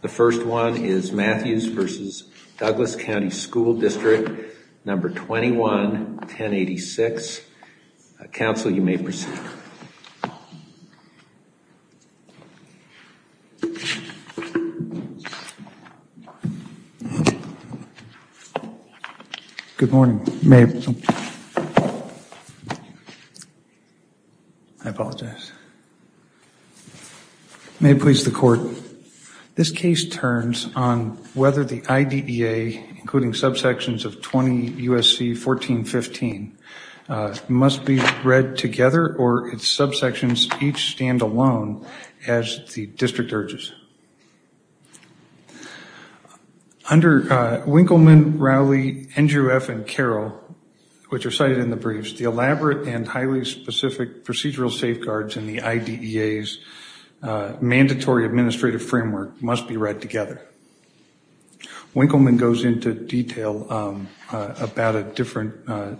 The first one is Matthews v. Douglas County School District No. 21-1086. Counsel, you may proceed. Good morning. I apologize. May it please the court. This case turns on whether the IDEA, including subsections of 20 U.S.C. 1415, must be read together or its subsections each stand alone as the district urges. Under Winkleman, Rowley, NJUF, and Carroll, which are cited in the briefs, the elaborate and highly specific procedural safeguards in the IDEA's mandatory administrative framework must be read together. Winkleman goes into detail about the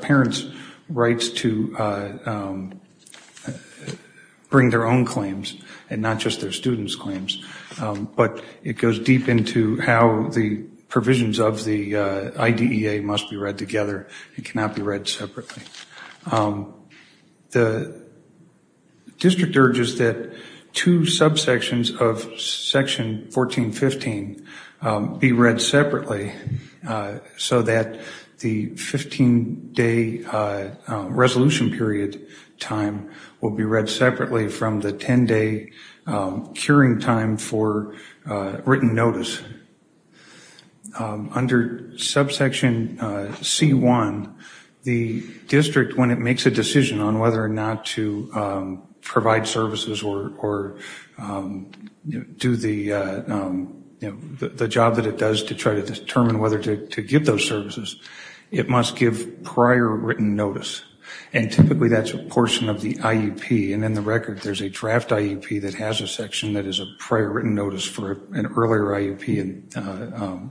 parents' rights to bring their own claims and not just their students' claims, but it goes deep into how the provisions of the IDEA must be read together. It cannot be read separately. The district urges that two subsections of Section 1415 be read separately so that the 15-day resolution period time will be read separately from the 10-day curing time for written notice. Under subsection C1, the district, when it makes a decision on whether or not to provide services or do the job that it does to try to determine whether to give those services, it must give prior written notice. And typically that's a portion of the IUP, and in the record there's a draft IUP that has a section that is a prior written notice for an earlier IUP,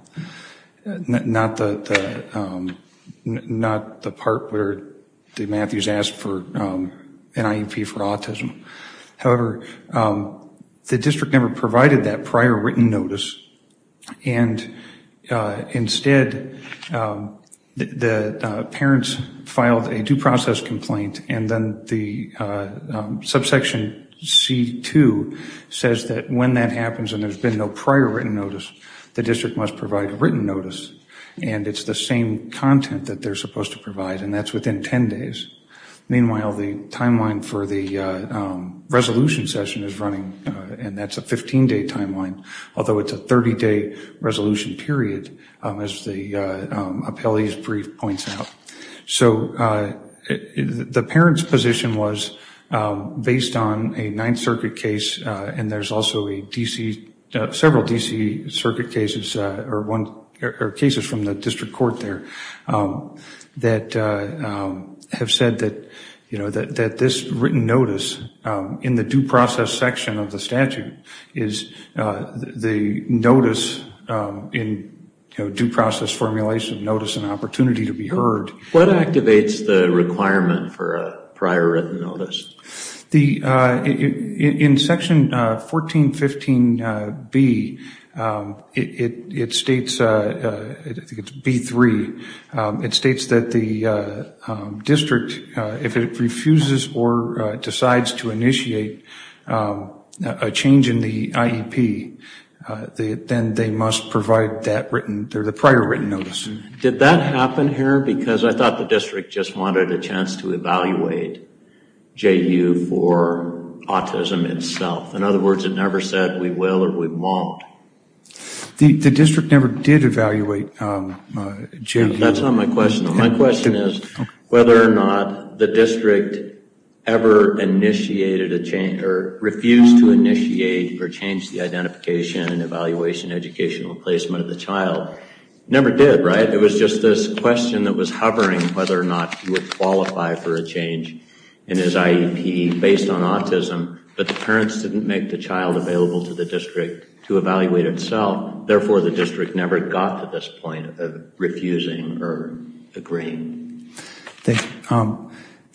not the part where Matthews asked for an IUP for autism. However, the district never provided that prior written notice, and instead the parents filed a due process complaint, and then the subsection C2 says that when that happens and there's been no prior written notice, the district must provide written notice, and it's the same content that they're supposed to provide, and that's within 10 days. Meanwhile, the timeline for the resolution session is running, and that's a 15-day timeline, although it's a 30-day resolution period, as the appellee's brief points out. So the parents' position was based on a Ninth Circuit case, and there's also several D.C. Circuit cases or cases from the district court there that have said that this written notice in the due process section of the statute is the notice in due process formulation, notice and opportunity to be heard. What activates the requirement for a prior written notice? In section 1415B, it states, I think it's B3, it states that the district, if it refuses or decides to initiate a change in the IEP, then they must provide that written, the prior written notice. Did that happen here? Because I thought the district just wanted a chance to evaluate JU for autism itself. In other words, it never said we will or we won't. The district never did evaluate JU. That's not my question. My question is whether or not the district ever initiated a change, or refused to initiate or change the identification and evaluation educational placement of the child. Never did, right? It was just this question that was hovering whether or not you would qualify for a change in his IEP based on autism, but the parents didn't make the child available to the district to evaluate itself. Therefore, the district never got to this point of refusing or agreeing.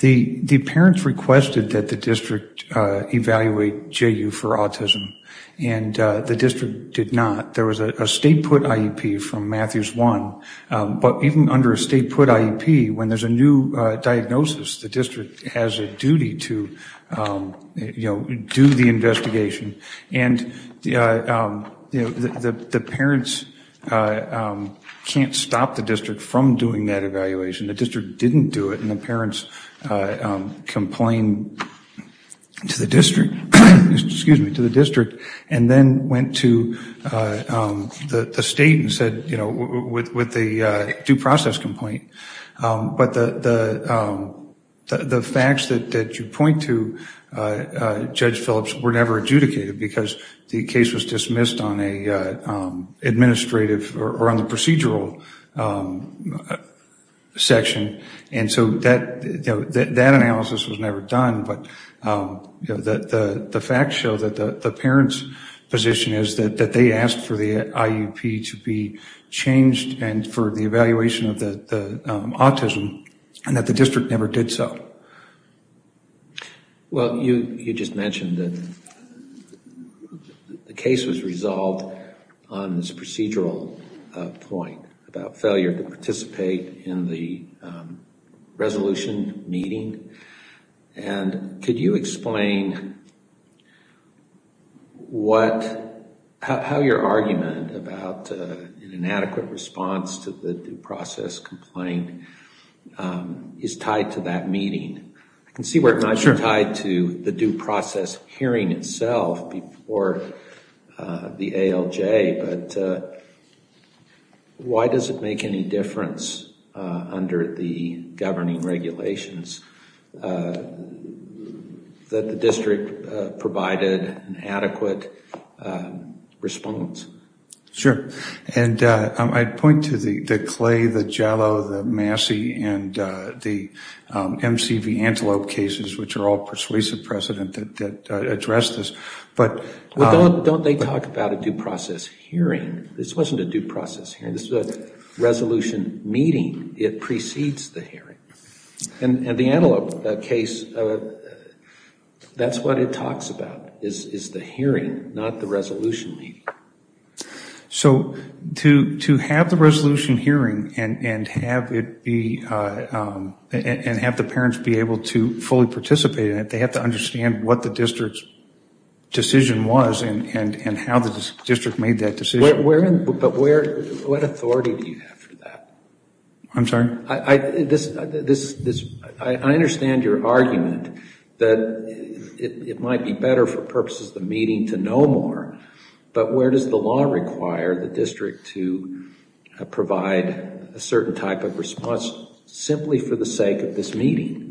The parents requested that the district evaluate JU for autism, and the district did not. There was a state put IEP from Matthews 1, but even under a state put IEP, when there's a new diagnosis, the district has a duty to do the investigation. The parents can't stop the district from doing that evaluation. The district didn't do it, and the parents complained to the district, and then went to the state and said, with the due process complaint, but the facts that you point to, Judge Phillips, were never adjudicated, because the case was dismissed on an administrative or on the procedural section. That analysis was never done, but the facts show that the parents' position is that they asked for the IEP to be changed and for the evaluation of the autism, and that the district never did so. Well, you just mentioned that the case was resolved on this procedural point about failure to participate in the resolution meeting, and could you explain how your argument about an inadequate response to the due process complaint is tied to that meeting? I can see where it might be tied to the due process hearing itself before the ALJ, but why does it make any difference under the governing regulations that the district provided an adequate response? Sure. And I'd point to the Clay, the Jallow, the Massey, and the MCV Antelope cases, which are all persuasive precedent that address this. Don't they talk about a due process hearing? This wasn't a due process hearing. This was a resolution meeting. It precedes the hearing. And the Antelope case, that's what it talks about is the hearing, not the resolution meeting. So to have the resolution hearing and have the parents be able to fully participate in it, they have to understand what the district's decision was and how the district made that decision. But what authority do you have for that? I'm sorry? I understand your argument that it might be better for purposes of the meeting to know more, but where does the law require the district to provide a certain type of response simply for the sake of this meeting?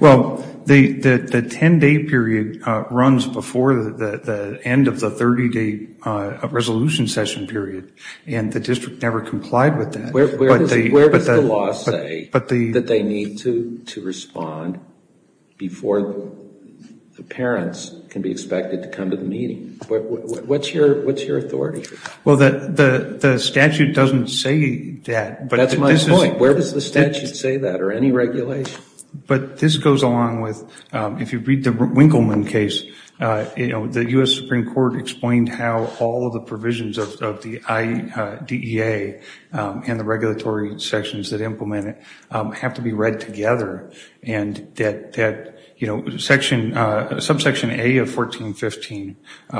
Well, the 10-day period runs before the end of the 30-day resolution session period, and the district never complied with that. Where does the law say that they need to respond before the parents can be expected to come to the meeting? What's your authority? Well, the statute doesn't say that. That's my point. Where does the statute say that, or any regulation? But this goes along with, if you read the Winkleman case, the U.S. Supreme Court explained how all of the provisions of the IDEA and the regulatory sections that implement it have to be read together, and that subsection A of 1415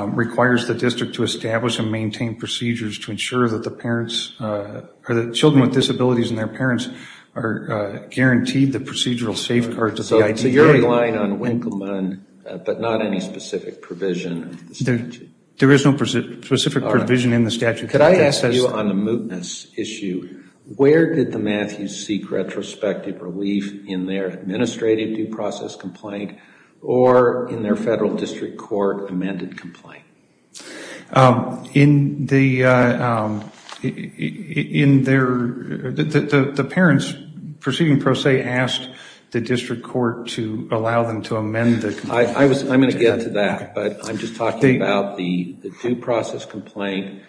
requires the district to establish and maintain procedures to ensure that children with disabilities and their parents are guaranteed the procedural safeguards of the IDEA. So you're relying on Winkleman, but not any specific provision of the statute? There is no specific provision in the statute. Could I ask you on the mootness issue, where did the Matthews seek retrospective relief in their administrative due process complaint or in their federal district court amended complaint? The parents proceeding pro se asked the district court to allow them to amend the complaint. I'm going to get to that, but I'm just talking about the due process complaint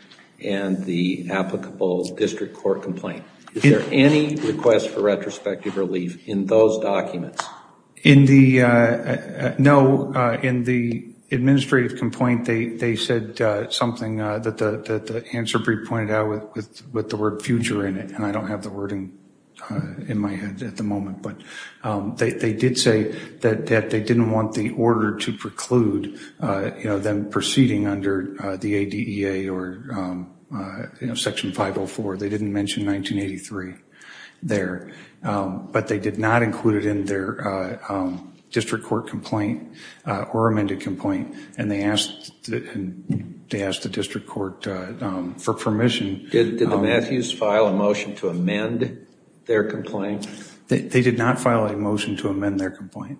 and the applicable district court complaint. Is there any request for retrospective relief in those documents? No. In the administrative complaint, they said something that the answer brief pointed out with the word future in it, and I don't have the wording in my head at the moment. But they did say that they didn't want the order to preclude them proceeding under the IDEA or Section 504. They didn't mention 1983 there. But they did not include it in their district court complaint or amended complaint, and they asked the district court for permission. Did the Matthews file a motion to amend their complaint? They did not file a motion to amend their complaint.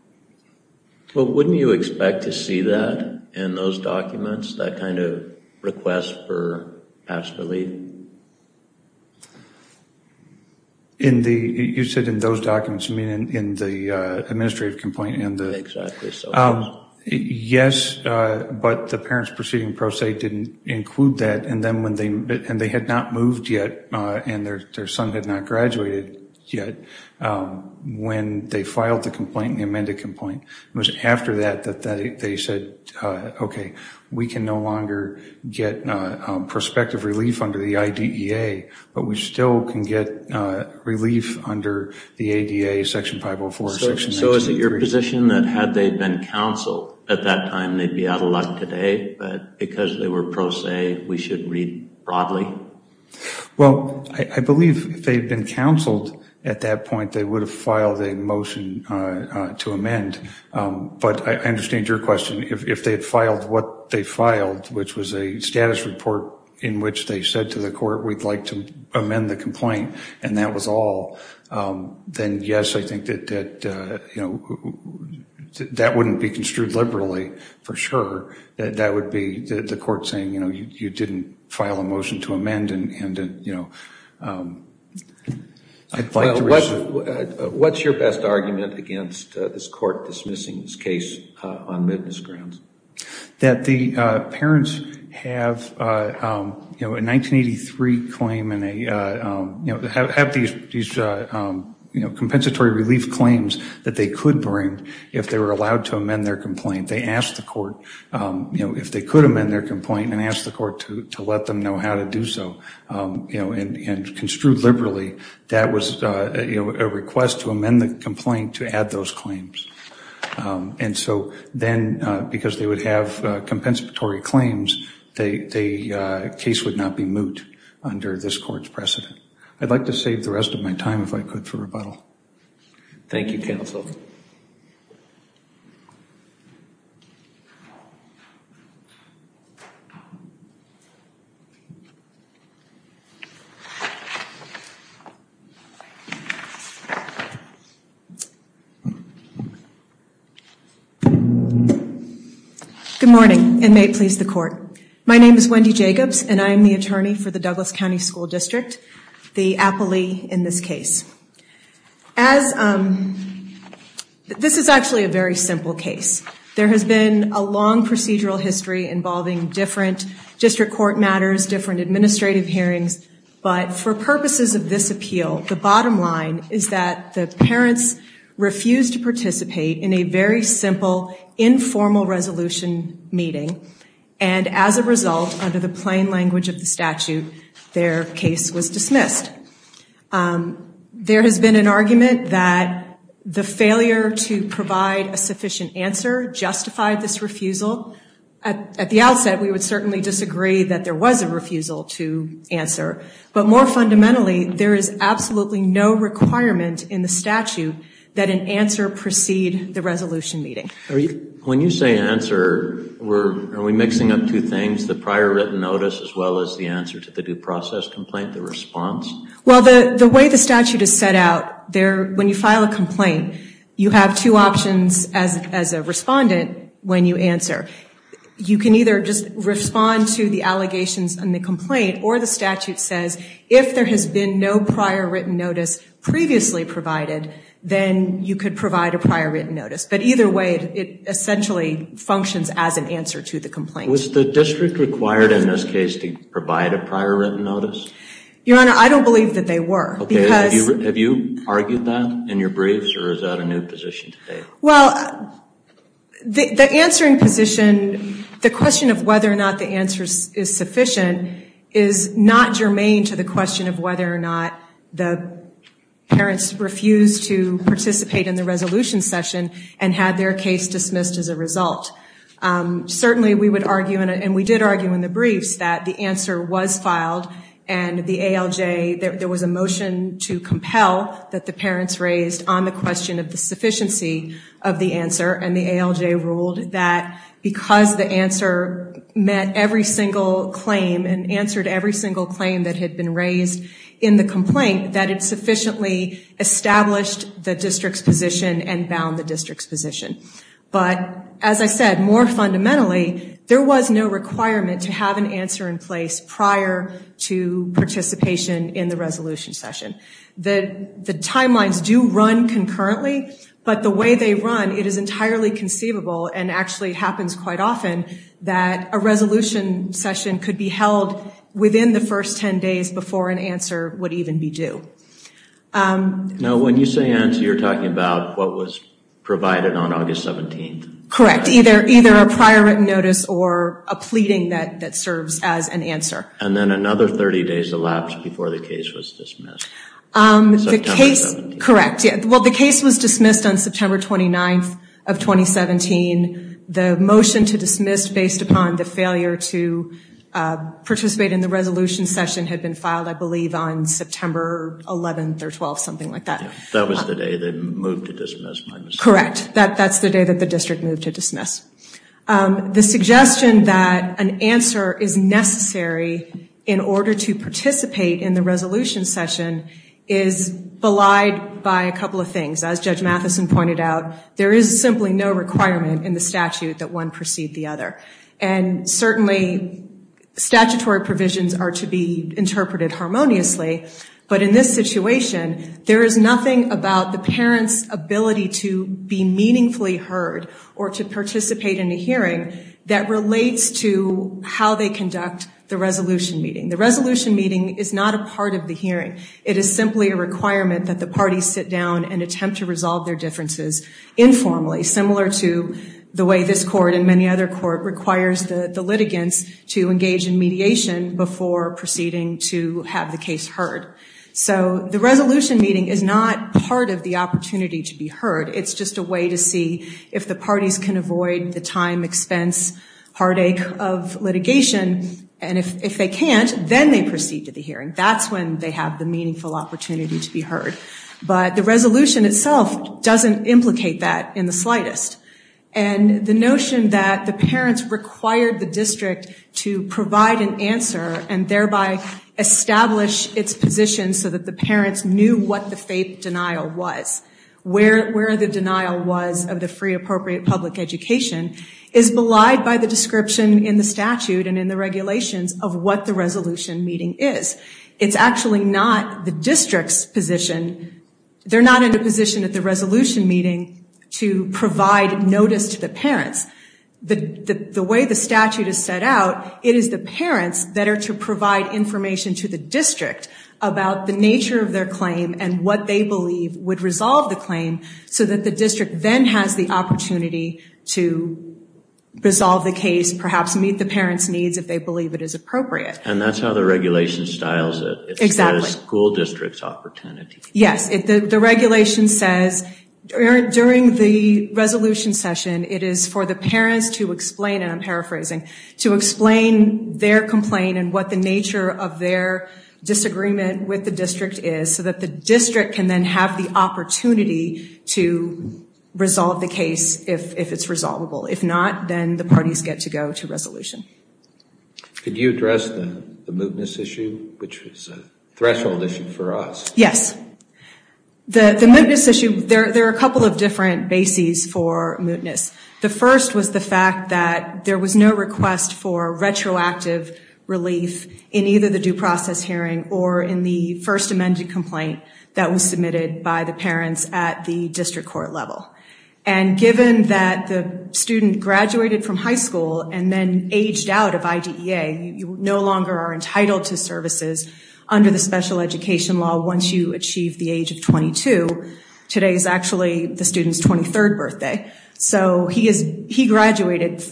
Well, wouldn't you expect to see that in those documents, that kind of request for past relief? You said in those documents, you mean in the administrative complaint? Exactly so. Yes, but the parents proceeding pro se didn't include that, and they had not moved yet and their son had not graduated yet. When they filed the complaint, the amended complaint, it was after that that they said, okay, we can no longer get prospective relief under the IDEA, but we still can get relief under the ADA, Section 504, Section 1983. So is it your position that had they been counseled at that time, they'd be out of luck today, but because they were pro se, we should read broadly? Well, I believe if they had been counseled at that point, they would have filed a motion to amend. But I understand your question. If they had filed what they filed, which was a status report in which they said to the court, we'd like to amend the complaint, and that was all, then yes, I think that that wouldn't be construed liberally for sure. That would be the court saying, you know, you didn't file a motion to amend. What's your best argument against this court dismissing this case on witness grounds? That the parents have a 1983 claim and have these compensatory relief claims that they could bring if they were allowed to amend their complaint. They asked the court if they could amend their complaint and asked the court to let them know how to do so. And construed liberally, that was a request to amend the complaint to add those claims. And so then, because they would have compensatory claims, the case would not be moot under this court's precedent. I'd like to save the rest of my time, if I could, for rebuttal. Thank you, counsel. Good morning, and may it please the court. My name is Wendy Jacobs, and I am the attorney for the Douglas County School District, the appellee in this case. This is actually a very simple case. There has been a long procedural history involving different district court matters, different administrative hearings, but for purposes of this appeal, the bottom line is that the parents refused to participate in a very simple, informal resolution meeting, and as a result, under the plain language of the statute, their case was dismissed. There has been an argument that the failure to provide a sufficient answer justified this refusal. At the outset, we would certainly disagree that there was a refusal to answer, but more fundamentally, there is absolutely no requirement in the statute that an answer precede the resolution meeting. When you say answer, are we mixing up two things, the prior written notice as well as the answer to the due process complaint, the response? Well, the way the statute is set out, when you file a complaint, you have two options as a respondent when you answer. You can either just respond to the allegations in the complaint, or the statute says if there has been no prior written notice previously provided, then you could provide a prior written notice. But either way, it essentially functions as an answer to the complaint. Was the district required in this case to provide a prior written notice? Your Honor, I don't believe that they were. Have you argued that in your briefs, or is that a new position today? Well, the answering position, the question of whether or not the answer is sufficient is not germane to the question of whether or not the parents refused to participate in the resolution session and had their case dismissed as a result. Certainly, we would argue, and we did argue in the briefs, that the answer was filed and the ALJ, there was a motion to compel that the parents raised on the question of the sufficiency of the answer, and the ALJ ruled that because the answer met every single claim and answered every single claim that had been raised in the complaint, that it sufficiently established the district's position and bound the district's position. But, as I said, more fundamentally, there was no requirement to have an answer in place prior to participation in the resolution session. The timelines do run concurrently, but the way they run, it is entirely conceivable, and actually happens quite often, that a resolution session could be held within the first 10 days before an answer would even be due. Now, when you say answer, you're talking about what was provided on August 17th. Correct, either a prior written notice or a pleading that serves as an answer. And then another 30 days elapsed before the case was dismissed. The case, correct. Well, the case was dismissed on September 29th of 2017. The motion to dismiss based upon the failure to participate in the resolution session had been filed, I believe, on September 11th or 12th, something like that. That was the day they moved to dismiss. Correct, that's the day that the district moved to dismiss. The suggestion that an answer is necessary in order to participate in the resolution session is belied by a couple of things. As Judge Matheson pointed out, there is simply no requirement in the statute that one precede the other. And certainly statutory provisions are to be interpreted harmoniously, but in this situation, there is nothing about the parent's ability to be meaningfully heard or to participate in a hearing that relates to how they conduct the resolution meeting. The resolution meeting is not a part of the hearing. It is simply a requirement that the parties sit down and attempt to resolve their differences informally, similar to the way this court and many other court requires the litigants to engage in mediation before proceeding to have the case heard. So the resolution meeting is not part of the opportunity to be heard. It's just a way to see if the parties can avoid the time, expense, heartache of litigation. And if they can't, then they proceed to the hearing. That's when they have the meaningful opportunity to be heard. But the resolution itself doesn't implicate that in the slightest. And the notion that the parents required the district to provide an answer and thereby establish its position so that the parents knew what the faith denial was, where the denial was of the free appropriate public education, is belied by the description in the statute and in the regulations of what the resolution meeting is. It's actually not the district's position. They're not in a position at the resolution meeting to provide notice to the parents. The way the statute is set out, it is the parents that are to provide information to the district about the nature of their claim and what they believe would resolve the claim so that the district then has the opportunity to resolve the case, perhaps meet the parents' needs if they believe it is appropriate. And that's how the regulation styles it. It says school district's opportunity. Yes. The regulation says during the resolution session, it is for the parents to explain, and I'm paraphrasing, to explain their complaint and what the nature of their disagreement with the district is so that the district can then have the opportunity to resolve the case if it's resolvable. Could you address the mootness issue, which is a threshold issue for us? Yes. The mootness issue, there are a couple of different bases for mootness. The first was the fact that there was no request for retroactive relief in either the due process hearing or in the first amended complaint that was submitted by the parents at the district court level. And given that the student graduated from high school and then aged out of IDEA, you no longer are entitled to services under the special education law once you achieve the age of 22. Today is actually the student's 23rd birthday. So he graduated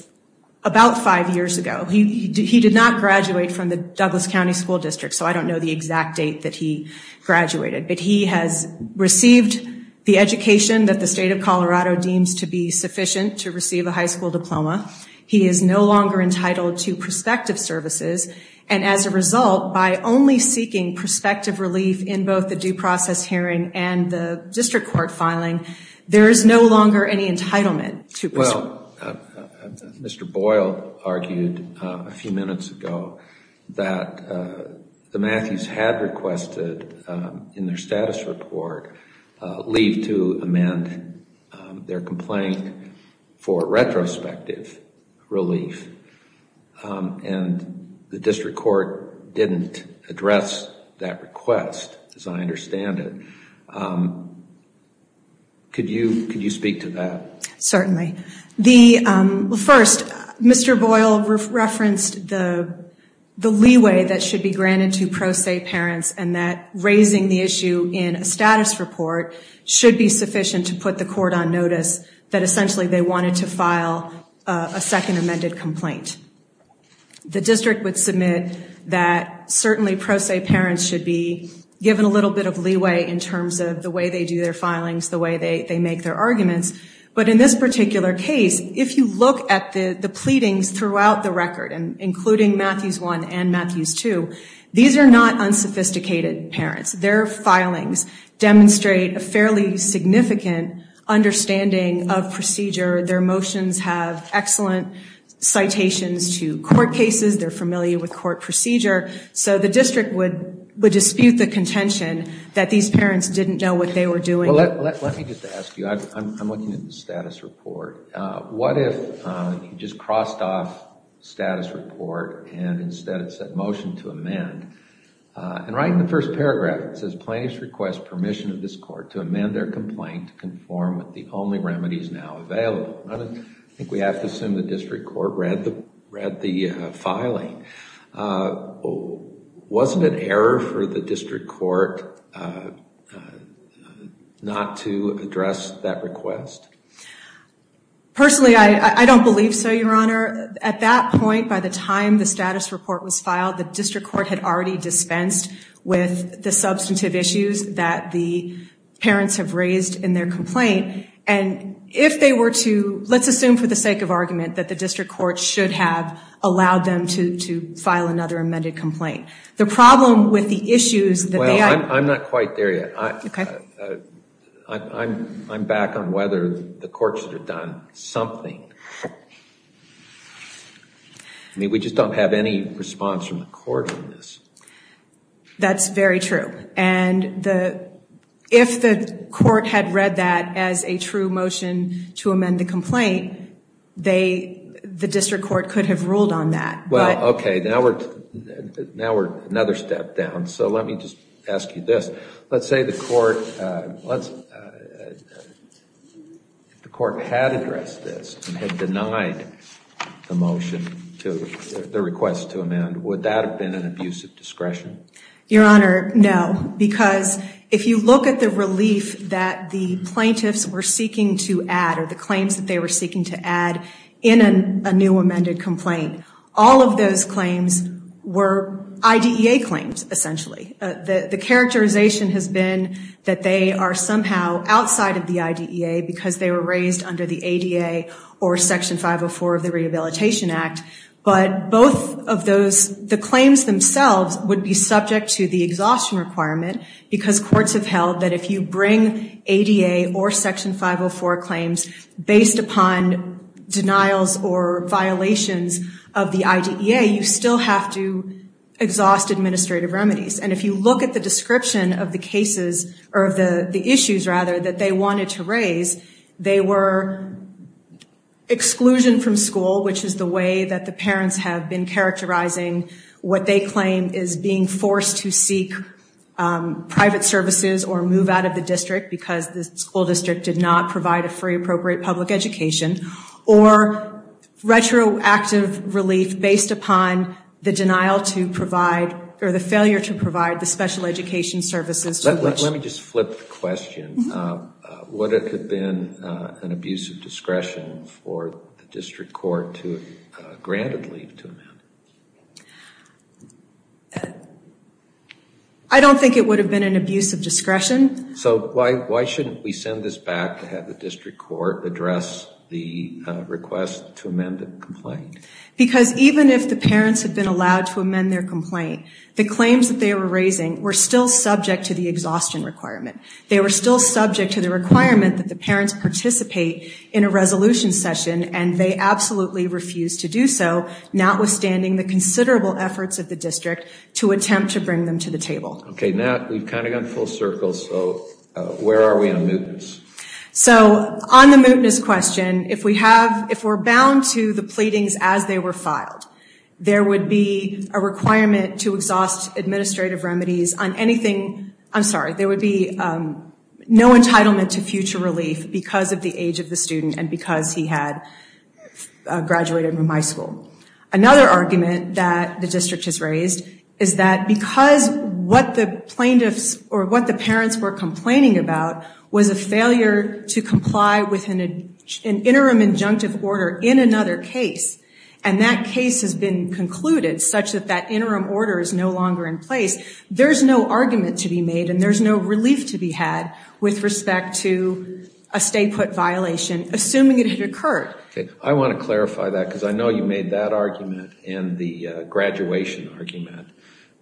about five years ago. He did not graduate from the Douglas County School District, so I don't know the exact date that he graduated. But he has received the education that the state of Colorado deems to be sufficient to receive a high school diploma. He is no longer entitled to prospective services. And as a result, by only seeking prospective relief in both the due process hearing and the district court filing, there is no longer any entitlement to prospective services. Mr. Boyle argued a few minutes ago that the Matthews had requested in their status report leave to amend their complaint for retrospective relief. And the district court didn't address that request, as I understand it. Could you speak to that? Certainly. First, Mr. Boyle referenced the leeway that should be granted to pro se parents and that raising the issue in a status report should be sufficient to put the court on notice that essentially they wanted to file a second amended complaint. The district would submit that certainly pro se parents should be given a little bit of leeway in terms of the way they do their filings, the way they make their arguments. But in this particular case, if you look at the pleadings throughout the record, including Matthews 1 and Matthews 2, these are not unsophisticated parents. Their filings demonstrate a fairly significant understanding of procedure. Their motions have excellent citations to court cases. They're familiar with court procedure. So the district would dispute the contention that these parents didn't know what they were doing. Let me just ask you, I'm looking at the status report. What if you just crossed off status report and instead it said motion to amend? And right in the first paragraph it says, plaintiffs request permission of this court to amend their complaint to conform with the only remedies now available. I think we have to assume the district court read the filing. Wasn't it error for the district court not to address that request? Personally, I don't believe so, Your Honor. At that point, by the time the status report was filed, the district court had already dispensed with the substantive issues that the parents have raised in their complaint. And if they were to, let's assume for the sake of argument, that the district court should have allowed them to file another amended complaint. The problem with the issues that they have- Well, I'm not quite there yet. I'm back on whether the courts have done something. I mean, we just don't have any response from the court on this. That's very true. And if the court had read that as a true motion to amend the complaint, the district court could have ruled on that. Well, okay. Now we're another step down. So let me just ask you this. Let's say the court had addressed this and had denied the request to amend. Would that have been an abuse of discretion? Your Honor, no. Because if you look at the relief that the plaintiffs were seeking to add or the claims that they were seeking to add in a new amended complaint, all of those claims were IDEA claims, essentially. The characterization has been that they are somehow outside of the IDEA because they were raised under the ADA or Section 504 of the Rehabilitation Act. But the claims themselves would be subject to the exhaustion requirement because courts have held that if you bring ADA or Section 504 claims based upon denials or violations of the IDEA, you still have to exhaust administrative remedies. And if you look at the description of the issues that they wanted to raise, they were exclusion from school, which is the way that the parents have been characterizing what they claim is being forced to seek private services or move out of the district because the school district did not provide a free appropriate public education, or retroactive relief based upon the denial to provide or the failure to provide the special education services. Let me just flip the question. Would it have been an abuse of discretion for the district court to grant a leave to amend it? I don't think it would have been an abuse of discretion. So why shouldn't we send this back to have the district court address the request to amend the complaint? Because even if the parents had been allowed to amend their complaint, the claims that they were raising were still subject to the exhaustion requirement. They were still subject to the requirement that the parents participate in a resolution session, and they absolutely refused to do so, notwithstanding the considerable efforts of the district to attempt to bring them to the table. Okay, now we've kind of gone full circle, so where are we on the mootness? So on the mootness question, if we're bound to the pleadings as they were filed, there would be a requirement to exhaust administrative remedies on anything. I'm sorry, there would be no entitlement to future relief because of the age of the student and because he had graduated from high school. Another argument that the district has raised is that because what the plaintiffs or what the parents were complaining about was a failure to comply with an interim injunctive order in another case, and that case has been concluded such that that interim order is no longer in place, there's no argument to be made and there's no relief to be had with respect to a stay-put violation, assuming it had occurred. Okay, I want to clarify that because I know you made that argument and the graduation argument.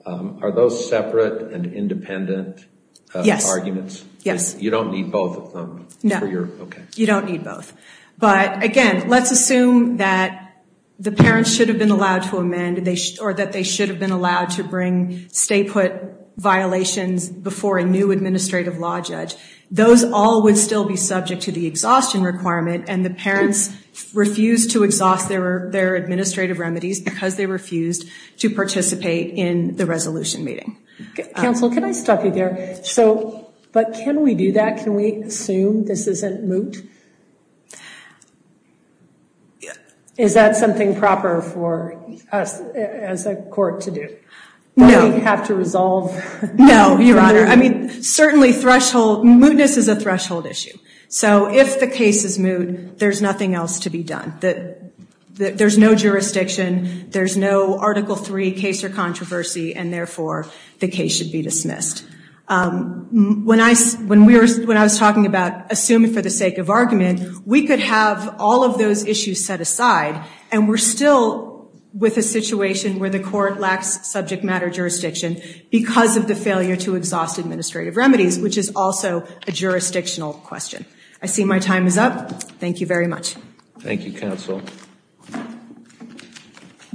Are those separate and independent arguments? Yes. You don't need both of them? No. Okay. You don't need both. But again, let's assume that the parents should have been allowed to amend or that they should have been allowed to bring stay-put violations before a new administrative law judge. Those all would still be subject to the exhaustion requirement and the parents refused to exhaust their administrative remedies because they refused to participate in the resolution meeting. Counsel, can I stop you there? But can we do that? Can we assume this isn't moot? Is that something proper for us as a court to do? No. Do we have to resolve? No, Your Honor. I mean, certainly mootness is a threshold issue. So if the case is moot, there's nothing else to be done. There's no jurisdiction, there's no Article III case or controversy, and therefore the case should be dismissed. When I was talking about assuming for the sake of argument, we could have all of those issues set aside and we're still with a situation where the court lacks subject matter jurisdiction because of the failure to exhaust administrative remedies, which is also a jurisdictional question. I see my time is up. Thank you very much. Thank you, counsel.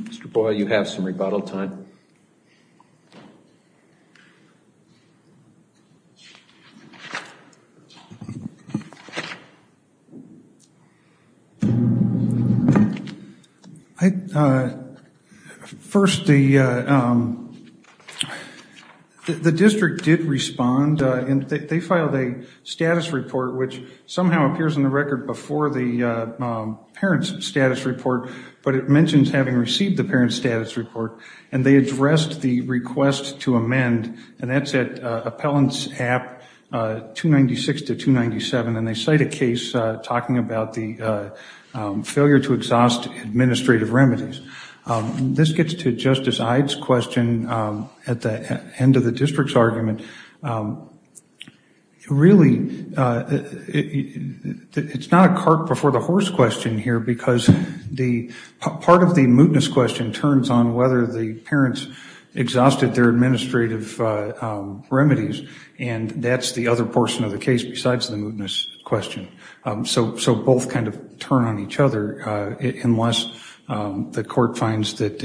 Mr. Boyle, you have some rebuttal time. First, the district did respond, and they filed a status report which somehow appears in the record before the parent's status report, but it mentions having received the parent's status report, and they addressed the request to amend, and that's at Appellants App 296-297, and they cite a case talking about the failure to exhaust administrative remedies. This gets to Justice Ide's question at the end of the district's argument. Really, it's not a cart before the horse question here because part of the mootness question turns on whether the parents exhausted their administrative remedies, and that's the other portion of the case besides the mootness question. So both kind of turn on each other, unless the court finds that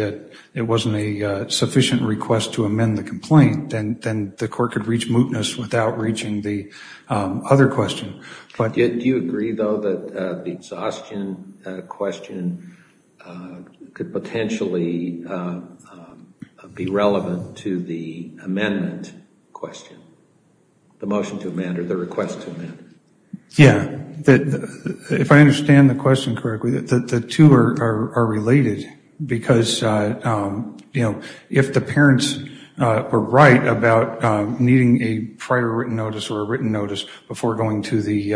it wasn't a sufficient request to amend the complaint, then the court could reach mootness without reaching the other question. Do you agree, though, that the exhaustion question could potentially be relevant to the amendment question, the motion to amend or the request to amend? Yeah, if I understand the question correctly, the two are related because if the parents were right about needing a prior written notice or a written notice before going to the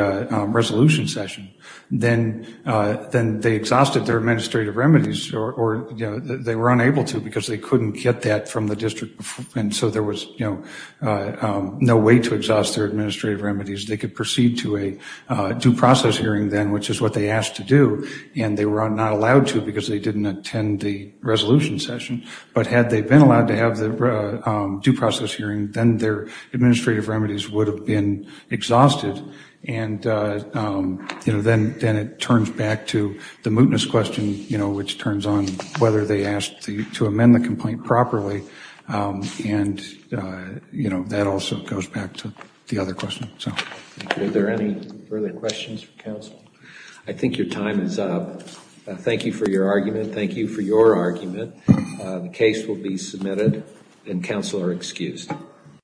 resolution session, then they exhausted their administrative remedies, or they were unable to because they couldn't get that from the district, and so there was no way to exhaust their administrative remedies. They could proceed to a due process hearing then, which is what they asked to do, and they were not allowed to because they didn't attend the resolution session. But had they been allowed to have the due process hearing, then their administrative remedies would have been exhausted, and then it turns back to the mootness question, which turns on whether they asked to amend the complaint properly, and that also goes back to the other question. Are there any further questions for counsel? I think your time is up. Thank you for your argument. Thank you for your argument. The case will be submitted, and counsel are excused.